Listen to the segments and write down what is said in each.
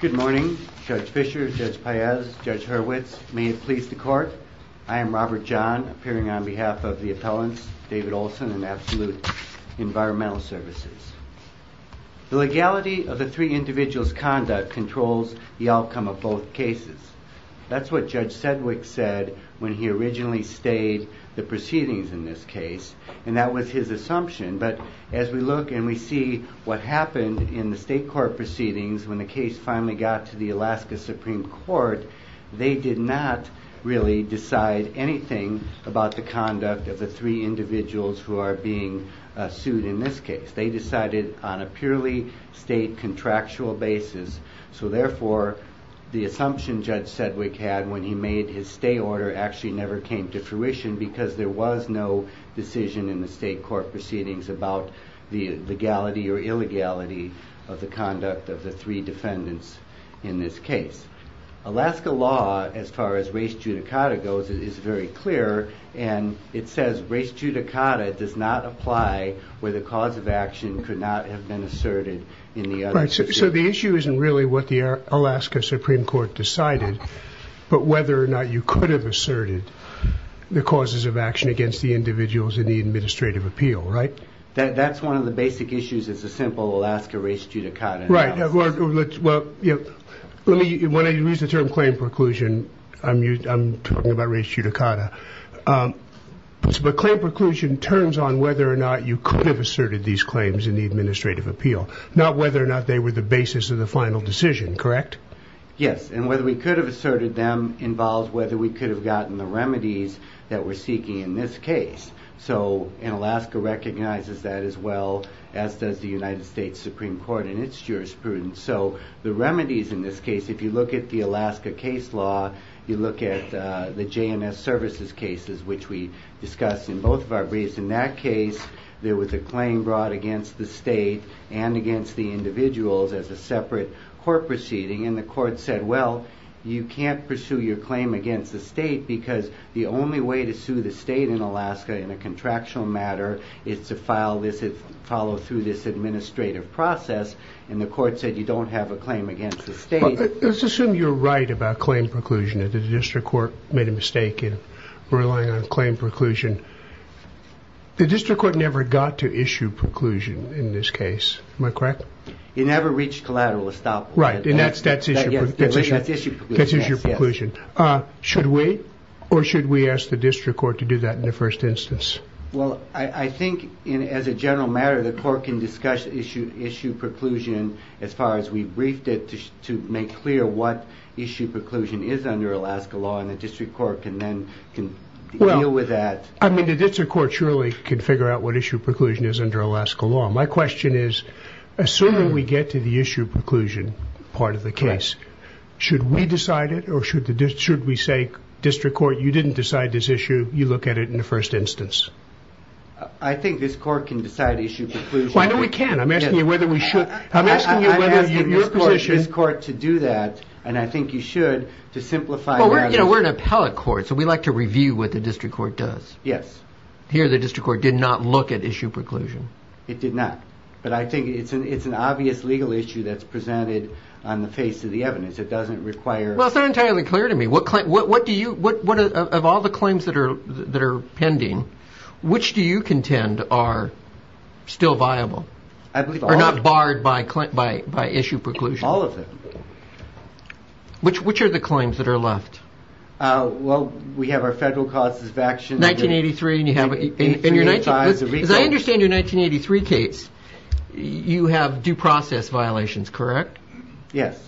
Good morning, Judge Fischer, Judge Paez, Judge Hurwitz. May it please the court, I am Robert John, appearing on behalf of the appellants, David Olson and Absolute Environmental Services. The legality of the three individuals' conduct controls the outcome of both cases. That's what Judge Sedwick said when he originally stayed the proceedings in this case, and that was his assumption, but as we look and we see what happened in the state court proceedings when the case finally got to the Alaska Supreme Court, they did not really decide anything about the conduct of the three individuals who are being sued in this case. They decided on a purely state contractual basis, so therefore the assumption Judge Sedwick had when he made his stay order actually never came to fruition because there was no decision in the state court proceedings about the legality or illegality of the conduct of the three defendants in this case. Alaska law, as far as race judicata goes, is very clear, and it says race judicata does not apply where the cause of action could not have been asserted in the other cases. So the issue isn't really what the Alaska Supreme Court decided, but whether or not you could have asserted the causes of action against the individuals in the administrative appeal, right? That's one of the basic issues. It's a simple Alaska race judicata analysis. Right. When I use the term claim preclusion, I'm talking about race judicata, but claim preclusion turns on whether or not you could have asserted these claims in the administrative appeal, not whether or not they were the basis of the final decision, correct? Yes, and whether we could have asserted them involves whether we could have gotten the remedies that we're seeking in this case, and Alaska recognizes that as well as does the United States Supreme Court in its jurisprudence. So the remedies in this case, if you look at the Alaska case law, you look at the JNS services cases, which we discussed in both of our briefs. In that case, there was a claim brought against the state and against the individuals as a separate court proceeding, and the court said, well, you can't pursue your claim against the state because the only way to sue the state in Alaska in a contractual matter is to follow through this administrative process, and the court said you don't have a claim against the state. Let's assume you're right about claim preclusion, that the district court made a mistake in relying on claim preclusion. The district court never got to issue preclusion in this case, am I correct? It never reached collateral estoppel. Right, and that's issue preclusion. Should we, or should we ask the district court to do that in the first instance? Well, I think as a general matter, the court can discuss issue preclusion as far as we briefed it to make clear what issue preclusion is under Alaska law, and the district court can then deal with that. I mean, the district court surely can figure out what issue preclusion is under Alaska law. My question is, assuming we get to the issue preclusion part of the case, should we decide it, or should we say, district court, you didn't decide this issue, you look at it in the first instance? I think this court can decide issue preclusion. Why don't we can? I'm asking you whether we should. I'm asking you whether your position I'm asking this court to do that, and I think you should, to simplify the So we like to review what the district court does. Yes. Here, the district court did not look at issue preclusion. It did not, but I think it's an obvious legal issue that's presented on the face of the evidence. It doesn't require... Well, it's not entirely clear to me. What do you, of all the claims that are pending, which do you contend are still viable? I believe all of them. Or not barred by issue preclusion? All of them. Which are the claims that are left? Well, we have our federal causes of action. 1983, and you have... In your 1983... As I understand your 1983 case, you have due process violations, correct? Yes.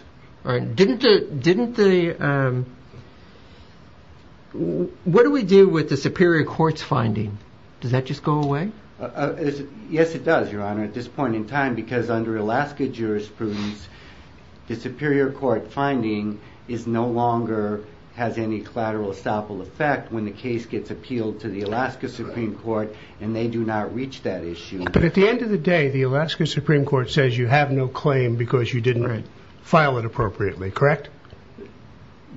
All right. Didn't the... What do we do with the superior court's finding? Does that just go away? Yes, it does, Your Honor, at this point in time, because under Alaska jurisprudence, the superior court finding is no longer... Has any collateral estoppel effect when the case gets appealed to the Alaska Supreme Court, and they do not reach that issue. But at the end of the day, the Alaska Supreme Court says you have no claim because you didn't file it appropriately, correct?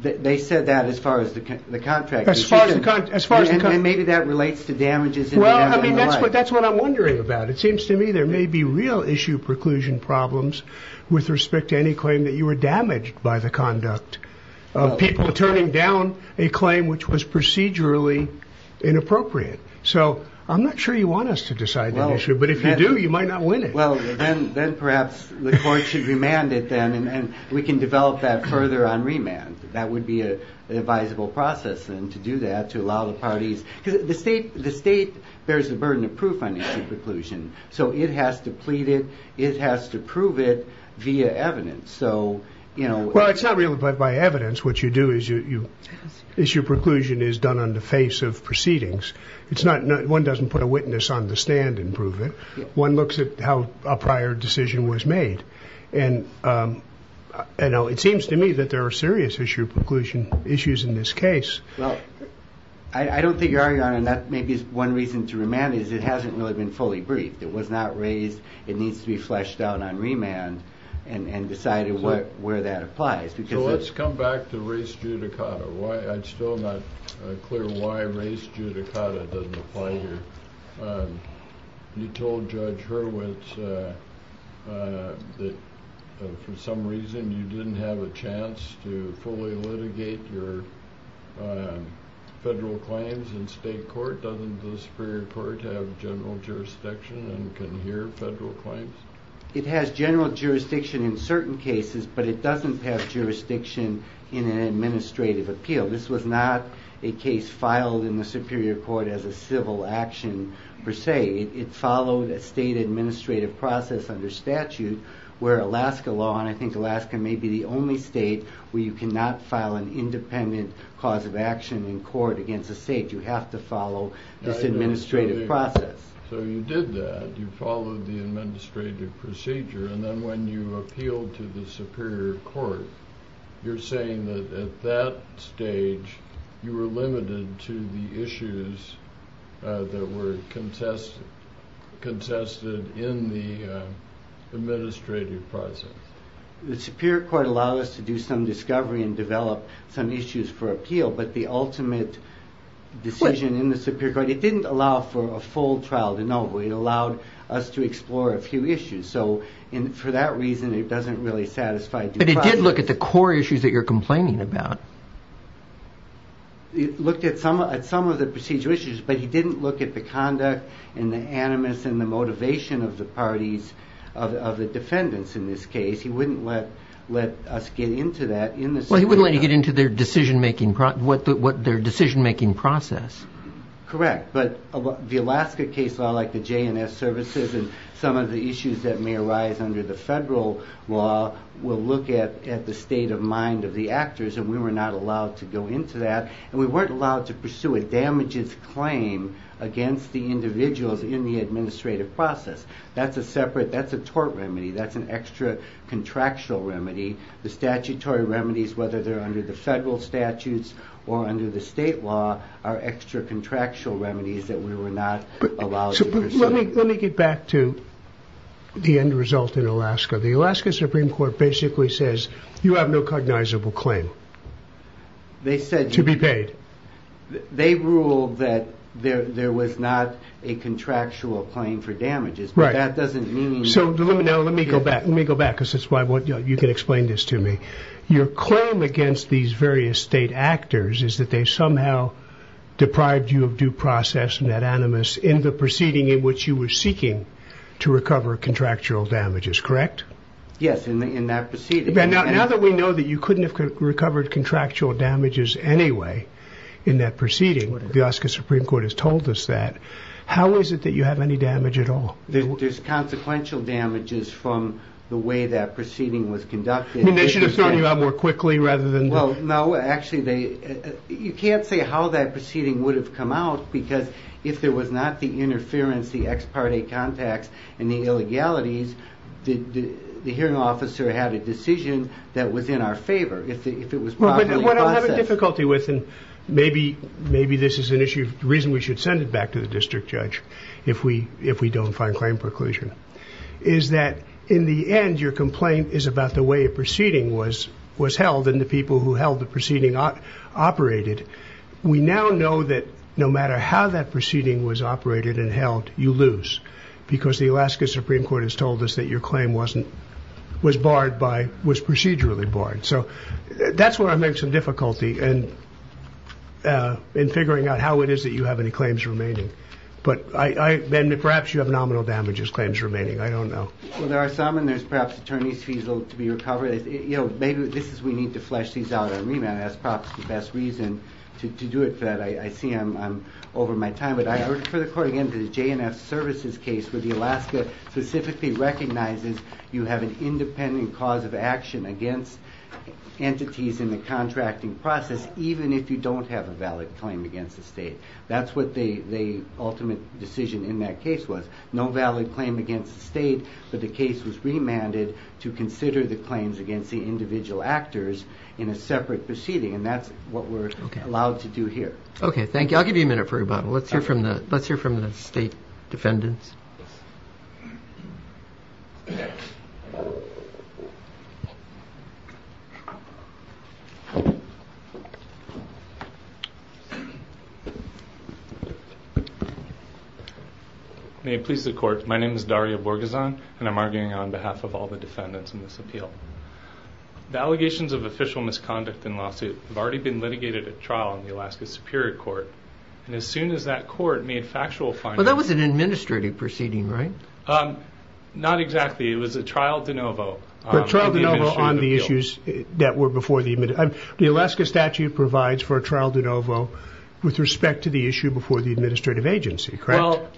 They said that as far as the contract is concerned. As far as the contract... And maybe that relates to damages... Well, I mean, that's what I'm wondering about. It seems to me there may be real issue preclusion problems with respect to any claim that you were damaged by the conduct of people turning down a claim which was procedurally inappropriate. So I'm not sure you want us to decide that issue, but if you do, you might not win it. Well, then perhaps the court should remand it then, and we can develop that further on remand. That would be an advisable process, then, to do that, to allow the parties... Because the state bears the burden of proof on issue preclusion, so it has to plead it, it has to prove it via evidence. Well, it's not really by evidence. What you do is issue preclusion is done on the face of proceedings. One doesn't put a witness on the stand and prove it. One looks at how a prior decision was made. And it seems to me that there are serious issue preclusion issues in this case. Well, I don't think you're arguing on it, and that may be one reason to remand it. It hasn't really been fully briefed. It was not raised. It needs to be fleshed out on remand and decided where that applies. So let's come back to race judicata. I'm still not clear why race judicata doesn't apply here. You told Judge Hurwitz that for some reason you didn't have a chance to fully litigate your federal claims in state court. Doesn't the Superior Court have general jurisdiction and can hear federal claims? It has general jurisdiction in certain cases, but it doesn't have jurisdiction in an administrative appeal. This was not a case filed in the Superior Court as a civil action per se. It followed a state administrative process under statute where Alaska law, and I think Alaska may be the only state where you cannot file an independent cause of action in court against a state. You have to follow this administrative process. So you did that. You followed the administrative procedure, and then when you appealed to the Superior Court, you're saying that at that stage you were limited to the issues that were contested in the administrative process. The Superior Court allowed us to do some discovery and develop some issues for appeal, but the ultimate decision in the Superior Court, it didn't allow for a full trial de novo. It allowed us to explore a few issues. So for that reason, it doesn't really satisfy due process. But it did look at the core issues that you're complaining about. It looked at some of the procedural issues, but it didn't look at the conduct and the motivation of the parties, of the defendants in this case. He wouldn't let us get into that. Well, he wouldn't let you get into their decision-making process. Correct. But the Alaska case law, like the JNS services and some of the issues that may arise under the federal law will look at the state of mind of the actors, and we were not allowed to go into that. And we weren't allowed to pursue a damages claim against the individuals in the administrative process. That's a separate, that's a tort remedy. That's an extra contractual remedy. The statutory remedies, whether they're under the federal statutes or under the state law, are extra contractual remedies that we were not allowed to pursue. Let me get back to the end result in Alaska. The Alaska Supreme Court basically says, you have no cognizable claim to be paid. They ruled that there was not a contractual claim for damages. Right. But that doesn't mean... So let me go back, let me go back, because that's why you can explain this to me. Your claim against these various state actors is that they somehow deprived you of due process net animus in the proceeding in which you were seeking to recover contractual damages, correct? Yes, in that proceeding. Now that we know that you couldn't have recovered contractual damages anyway in that proceeding, the Alaska Supreme Court has told us that, how is it that you have any damage at all? There's consequential damages from the way that proceeding was conducted. They should have thrown you out more quickly rather than... Well, no, actually, you can't say how that proceeding would have come out, because if there was not the interference, the ex parte contacts, and the illegalities, the hearing officer had a decision that was in our favor if it was properly processed. What I'm having difficulty with, and maybe this is an issue, the reason we should send it back to the district judge if we don't find claim preclusion, is that in the end your complaint is about the way a proceeding was held and the people who held the proceeding operated. We now know that no matter how that proceeding was operated and held, you lose, because the Alaska Supreme Court has told us that your claim was procedurally barred. That's where I make some difficulty in figuring out how it is that you have any claims remaining. Perhaps you have nominal damages claims remaining, I don't know. Well, there are some, and there's perhaps attorney's fees to be recovered. Maybe we need to flesh these out on remand. That's perhaps the best reason to do it, but I see I'm over my time. I refer the court again to the J&F Services case where the Alaska specifically recognizes you have an independent cause of action against entities in the contracting process, even if you don't have a valid claim against the state. That's what the ultimate decision in that case was. No valid claim against the state, but the case was remanded to consider the claims against the individual actors in a separate proceeding, and that's what we're allowed to do here. Okay, thank you. I'll give you a minute for rebuttal. Let's hear from the state defendants. May it please the court. My name is Dario Borgeson, and I'm arguing on behalf of all the defendants in this appeal. The allegations of official misconduct in lawsuit have already been litigated at trial in the Alaska Superior Court, and as soon as that court made factual findings... Well, that was an administrative proceeding, right? Not exactly. It was a trial de novo. A trial de novo on the issues that were before the... The Alaska statute provides for a trial de novo with respect to the issue before the administrative agency, correct? Well,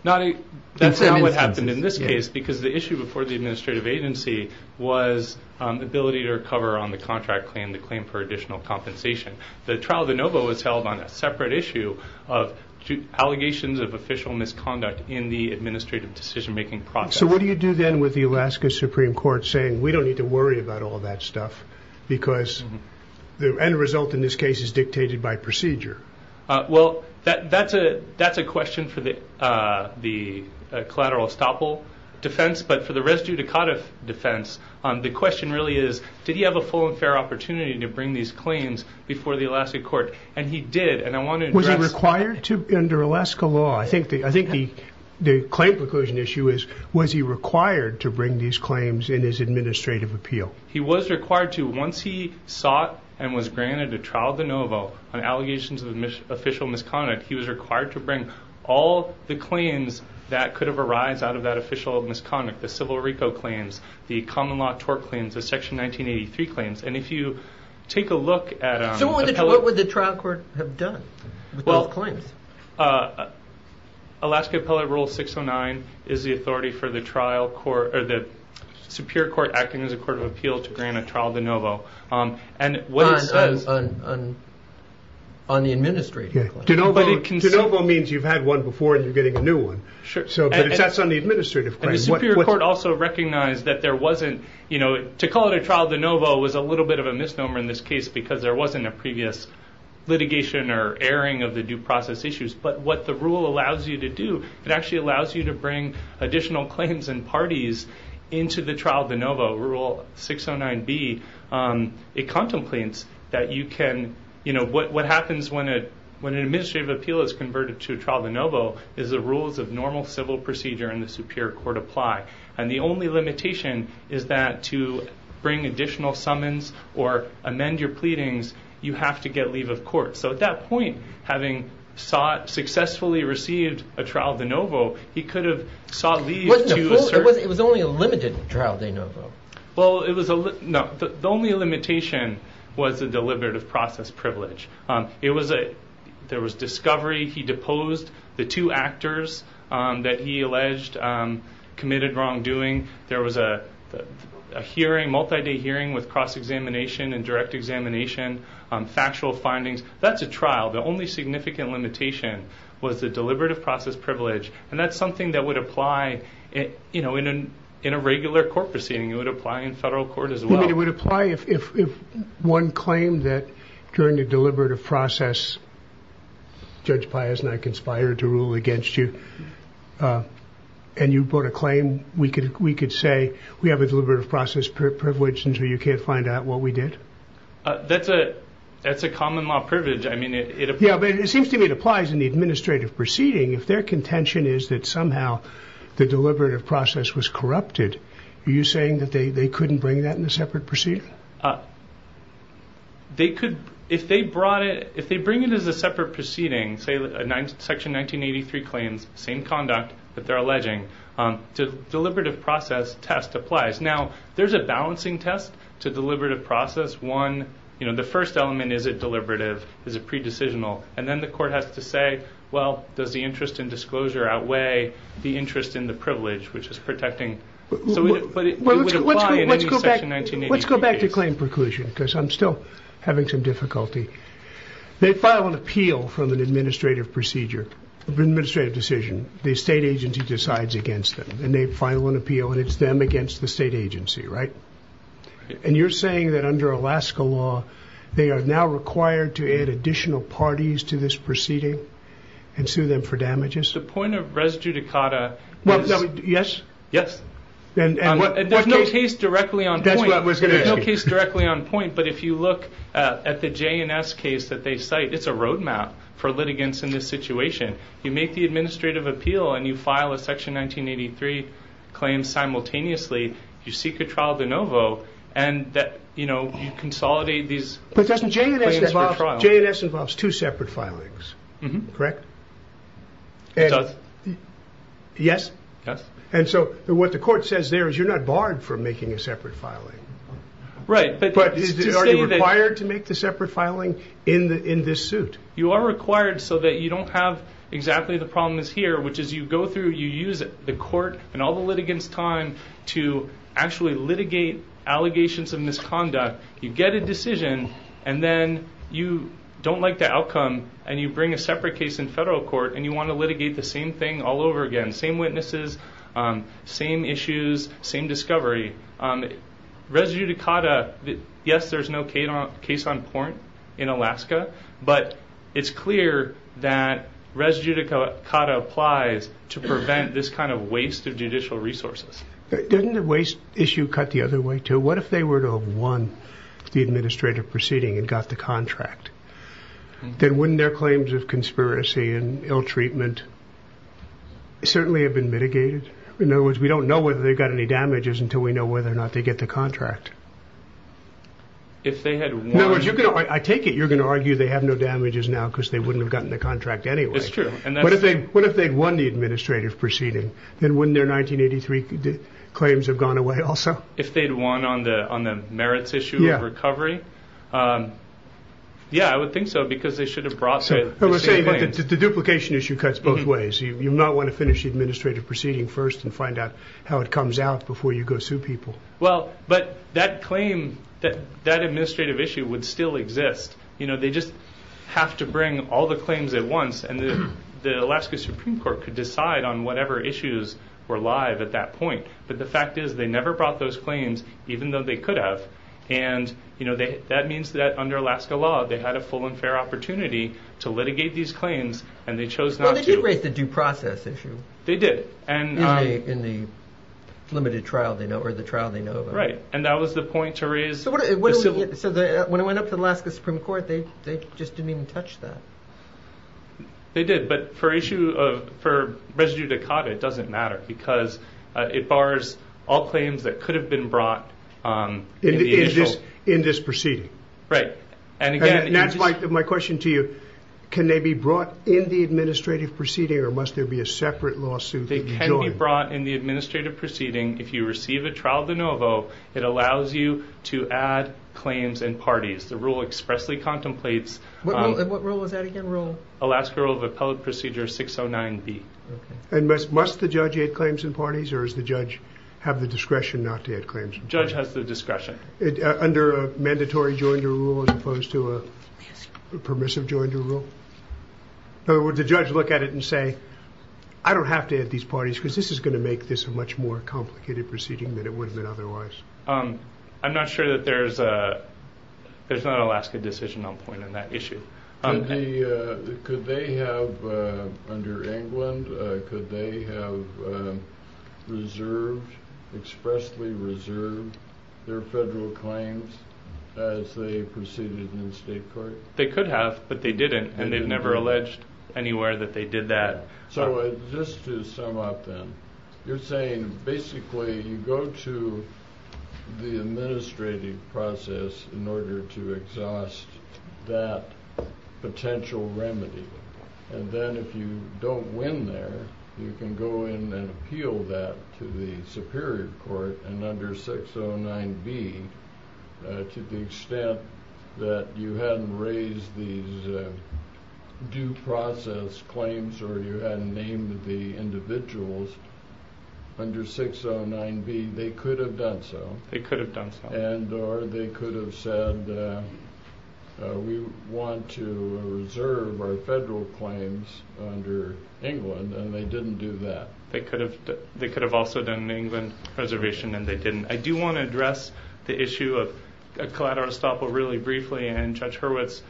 that's not what happened in this case because the issue before the administrative agency was ability to recover on the contract claim, the claim for additional compensation. The trial de novo was held on a separate issue of allegations of official misconduct in the administrative decision-making process. So what do you do then with the Alaska Supreme Court saying, we don't need to worry about all that stuff because the end result in this case is dictated by procedure? Well, that's a question for the collateral estoppel defense, but for the res judicata defense, the question really is, did he have a full and fair opportunity to bring these claims before the Alaska court? And he did, and I want to address... Was he required to, under Alaska law? I think the claim preclusion issue is, was he required to bring these claims in his administrative appeal? He was required to. Once he sought and was granted a trial de novo on allegations of official misconduct, he was required to bring all the claims that could have arisen out of that official misconduct. The civil rico claims, the common law tort claims, the section 1983 claims. And if you take a look at... So what would the trial court have done with those claims? Alaska appellate rule 609 is the authority for the trial court, or the superior court acting as a court of appeal to grant a trial de novo. And what it says... On the administrative claim. De novo means you've had one before and you're getting a new one. Sure. But that's on the administrative claim. And the superior court also recognized that there wasn't... To call it a trial de novo was a little bit of a misnomer in this case because there wasn't a previous litigation or airing of the due process issues. But what the rule allows you to do, it actually allows you to bring additional claims and parties into the trial de novo, rule 609B. It contemplates that you can... What happens when an administrative appeal is converted to a trial de novo is the rules of normal civil procedure in the superior court apply. And the only limitation is that to bring additional summons or amend your pleadings, you have to get leave of court. So at that point, having successfully received a trial de novo, he could have sought leave to... It was only a limited trial de novo. Well, it was... No. The only limitation was the deliberative process privilege. It was a... There was discovery. He deposed. The two actors that he alleged committed wrongdoing. There was a hearing, multi-day hearing with cross-examination and direct examination, factual findings. That's a trial. The only significant limitation was the deliberative process privilege. And that's something that would apply in a regular court proceeding. It would apply in federal court as well. It would apply if one claimed that during the deliberative process, Judge Pius and I conspired to rule against you and you brought a claim. We could say we have a deliberative process privilege until you can't find out what we did. That's a common law privilege. I mean, it... Yeah, but it seems to me it applies in the administrative proceeding. If their contention is that somehow the deliberative process was corrupted, are you saying that they couldn't bring that in a separate proceeding? They could... If they brought it... If they bring it as a separate proceeding, say Section 1983 claims, same conduct that they're alleging, the deliberative process test applies. Now, there's a balancing test to deliberative process. One, the first element, is it deliberative? Is it pre-decisional? And then the court has to say, well, does the interest in disclosure outweigh the interest in the privilege, which is protecting... But it would apply in any Section 1983 case. Let's go back to claim preclusion because I'm still having some difficulty. They file an appeal from an administrative procedure, an administrative decision. The state agency decides against them, and they file an appeal, and it's them against the state agency, right? And you're saying that under Alaska law, they are now required to add additional parties to this proceeding and sue them for damages? The point of res judicata is... Yes? Yes. And there's no case directly on point. That's what I was going to ask you. There's no case directly on point, but if you look at the JNS case that they cite, it's a roadmap for litigants in this situation. You make the administrative appeal, and you file a Section 1983 claim simultaneously. You seek a trial de novo, and you consolidate these claims for trial. But doesn't JNS involve... JNS involves two separate filings, correct? It does. Yes? Yes. And so what the court says there is you're not barred from making a separate filing. Right. But are you required to make the separate filing in this suit? You are required so that you don't have exactly the problem that's here, which is you go through, you use the court and all the litigants' time to actually litigate allegations of misconduct. You get a decision, and then you don't like the outcome, and you bring a separate case in federal court, and you want to litigate the same thing all over again. Same witnesses, same issues, same discovery. Res judicata, yes, there's no case on porn in Alaska, but it's clear that res judicata applies to prevent this kind of waste of judicial resources. Doesn't the waste issue cut the other way, too? What if they were to have won the administrative proceeding and got the contract? Then wouldn't their claims of conspiracy and ill treatment certainly have been mitigated? In other words, we don't know whether they got any damages until we know whether or not they get the contract. If they had won... In other words, I take it you're going to argue they have no damages now because they wouldn't have gotten the contract anyway. It's true. What if they'd won the administrative proceeding? Then wouldn't their 1983 claims have gone away also? If they'd won on the merits issue of recovery? Yeah. Yeah, I would think so because they should have brought the same claims. The duplication issue cuts both ways. You might want to finish the administrative proceeding first and find out how it comes out before you go sue people. But that claim, that administrative issue would still exist. They just have to bring all the claims at once and the Alaska Supreme Court could decide on whatever issues were live at that point. But the fact is they never brought those claims even though they could have. That means that under Alaska law they had a full and fair opportunity to litigate these claims and they chose not to. Well, they did raise the due process issue. They did. In the limited trial they know of or the trial they know of. Right. And that was the point to raise. So when it went up to Alaska Supreme Court they just didn't even touch that. They did. But for residue decada it doesn't matter because it bars all claims that could have been brought in the initial- In this proceeding. Right. And that's my question to you. Can they be brought in the administrative proceeding or must there be a separate lawsuit They can be brought in the administrative proceeding if you receive a trial de novo it allows you to add claims in parties. The rule expressly contemplates What rule is that again? Alaska Rule of Appellate Procedure 609B. And must the judge add claims in parties or does the judge have the discretion not to add claims in parties? The judge has the discretion. Under a mandatory joinder rule as opposed to a permissive joinder rule? In other words the judge look at it and say I don't have to add these parties because this is going to make this a much more complicated proceeding than it would have been otherwise. I'm not sure that there's there's not an Alaska decision on point on that issue. Could they have under England could they have reserved expressly reserved their federal claims as they proceeded in the state court? They could have but they didn't and they've never alleged anywhere that they did that So just to sum up then you're saying basically you go to the administrative process in order to exhaust that potential remedy and then if you don't win there you can go in and appeal that to the superior court and under 609B to the extent that you hadn't raised these due process claims or you hadn't named the individuals under 609B they could have done so They could have done so and or they could have said we want to reserve our federal claims under England and they didn't do that They could have they could have also done an England reservation and they didn't I do want to address the issue of collateral estoppel really briefly and Judge Hurwitz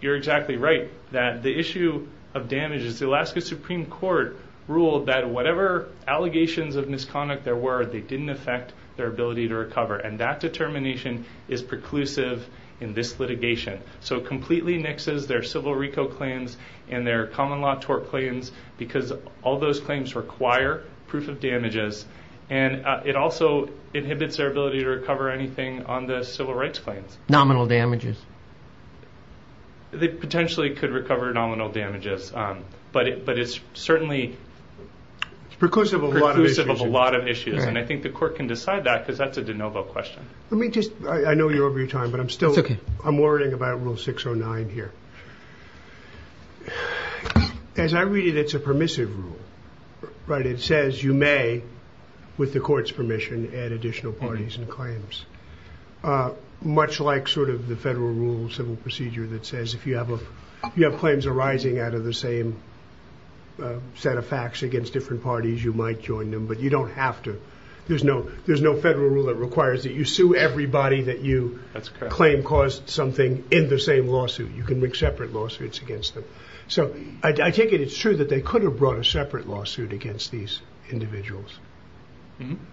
you're exactly right that the issue of damages the Alaska Supreme Court ruled that whatever allegations of misconduct there were they didn't affect their ability to recover and that determination is preclusive in this litigation so it completely nixes their civil reco claims and their common law tort claims because all those claims require proof of damages and it also inhibits their ability to recover anything on the civil rights claims Nominal damages They potentially could recover nominal damages but it's certainly preclusive of a lot of issues and I think the court can decide that because that's a de novo question Let me just I know you're over your time but I'm still I'm worrying about rule 609 here As I read it it's a permissive rule but it says you may with the court's permission add additional parties and claims much like sort of the federal rule civil procedure that says if you have claims arising out of the same set of facts against different parties you might join them but you don't have to there's no there's no federal rule that requires that you sue everybody that you claim caused something in the same lawsuit you can make separate lawsuits against them so I take it it's true that they could have brought a separate lawsuit against these individuals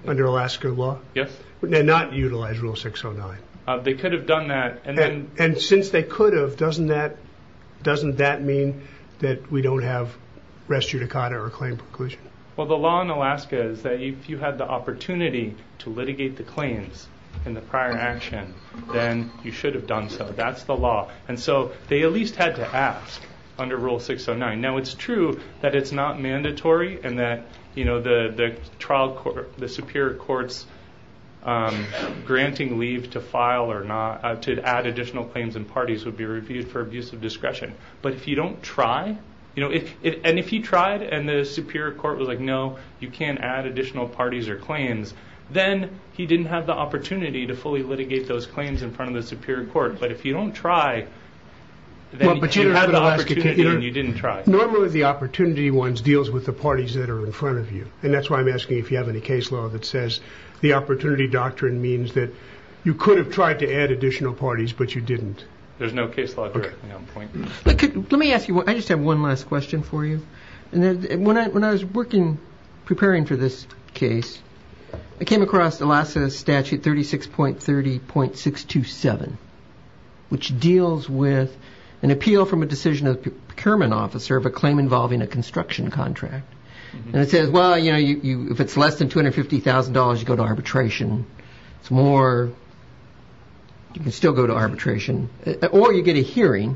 under Alaska law Yes and not utilize rule 609 They could have done that and since they could have doesn't that doesn't that mean that we don't have res judicata or claim preclusion Well the law in Alaska is that if you had the opportunity to litigate the claims in the prior action then you should have done so that's the law and so they at least had to ask under rule 609 now it's true that it's not mandatory and that you know the trial court the superior courts granting leave to file or not to add additional claims and parties would be reviewed for abuse of discretion but if you don't try you know and if he tried and the superior court was like no you can't add additional parties or claims then he didn't have the opportunity to fully litigate those claims in front of the superior court but if you don't try but you didn't have the opportunity and you didn't try normally the opportunity ones deals with the parties that are in front of you and that's why I'm asking if you have any case law that says the opportunity doctrine means that you could have tried to add additional parties but you didn't there's no case law directly on point let me ask you I just have one last question for you and that when I was working preparing for this case I came across the last statute 36.30.627 which deals with an appeal from a decision of a procurement officer of a claim involving a construction contract and it says well you know if it's less than $250,000 you go to arbitration it's more so you can still go to arbitration or you get a hearing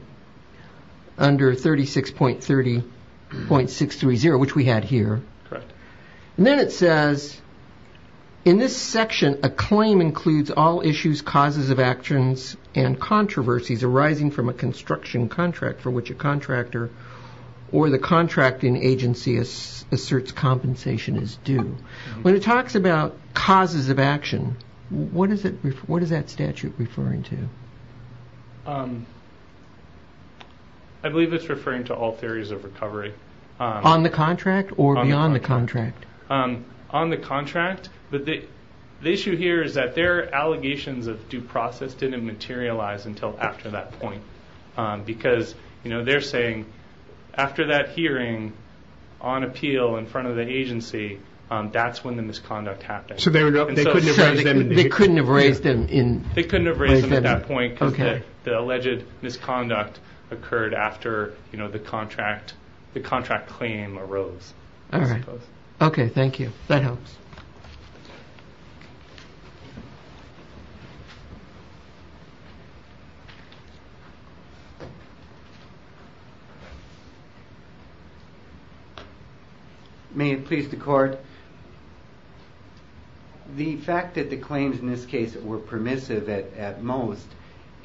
under 36.30.630 which we had here and then it says in this section a claim includes all issues causes of actions and controversies arising from what does it refer to well if it's less than $250,000 you go to arbitration or you get a hearing under 36.30.630 which we had here what is that statute referring to I believe it's referring to all theories of recovery on the contract or beyond the contract on the contract but the issue here is that their allegations of due process didn't materialize until after that point because you know they're saying after that hearing on appeal in front of the agency that's when the misconduct happened so they couldn't have raised them they couldn't have raised them they couldn't have raised them at that point because the alleged misconduct occurred after you know the contract the contract claim arose ok thank you that helps may it please the fact that the claims in this case were permissive at most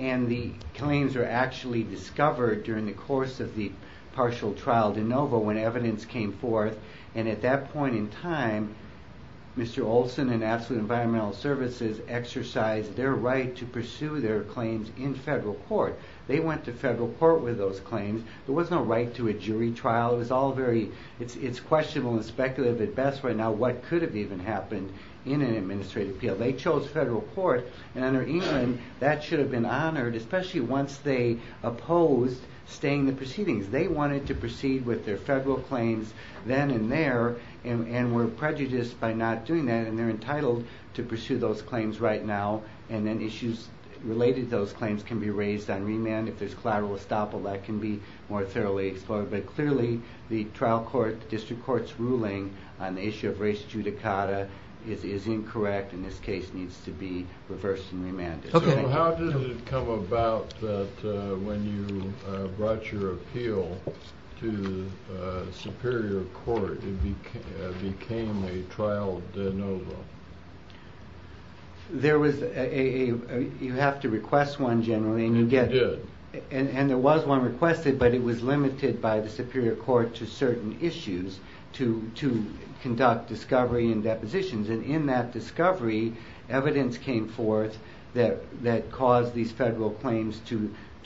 and the claims were actually discovered during the course of the partial trial de novo when evidence came forth and at that point in time Mr. Olson and absolute environmental services exercised their right to pursue their claims in federal court they went to federal court with those claims there was no right to a jury trial it was all very it's questionable and speculative at best right now what could have even happened in an administrative appeal they chose federal court and under England that should have been honored especially once they opposed staying the proceedings they wanted to proceed with their federal claims then and there and were prejudiced by not doing that and they're entitled to pursue those claims right now and then issues related to those claims can be raised on remand if there's collateral estoppel that can be more thoroughly explored but clearly the trial court district court's ruling on the issue of race judicata is incorrect and this case needs to be reversed and remanded so how did it come about that when you brought your appeal to the superior court it became a trial de novo there was a you have to request one generally and you did and there was one requested but it was limited by the superior court to certain issues to conduct discovery and depositions and in that discovery evidence came forth that caused these federal claims to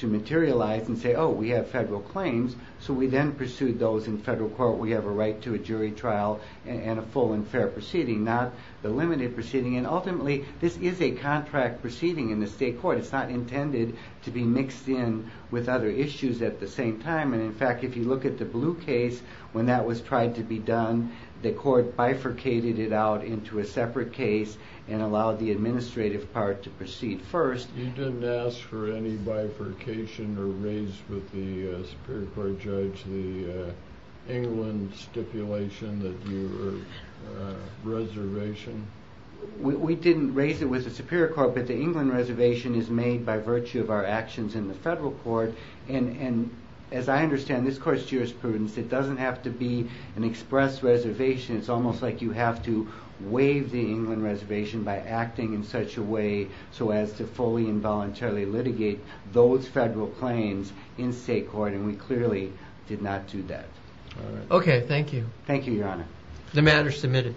be legalized and say oh we have federal claims so we then pursued those in federal court we have a right to a jury trial and a full and fair proceeding not the limited proceeding and ultimately this is a contract proceeding in the state court it's not intended to be mixed in with other issues at the same time and in fact if you look at the blue case when that was tried to be done the court bifurcated it out into a separate case and allowed the administrative part to proceed first you didn't ask for any bifurcation or raise with the superior court judge the England stipulation that your reservation we didn't raise it with the superior court but the England reservation is made by virtue of our actions in the federal court and as I understand this court's jurisprudence it doesn't have to be an express reservation it's almost like you have to waive the England reservation by acting in such a way so as to fully and voluntarily litigate those federal claims in state court and we clearly did not do that okay thank you thank you your honor the matter is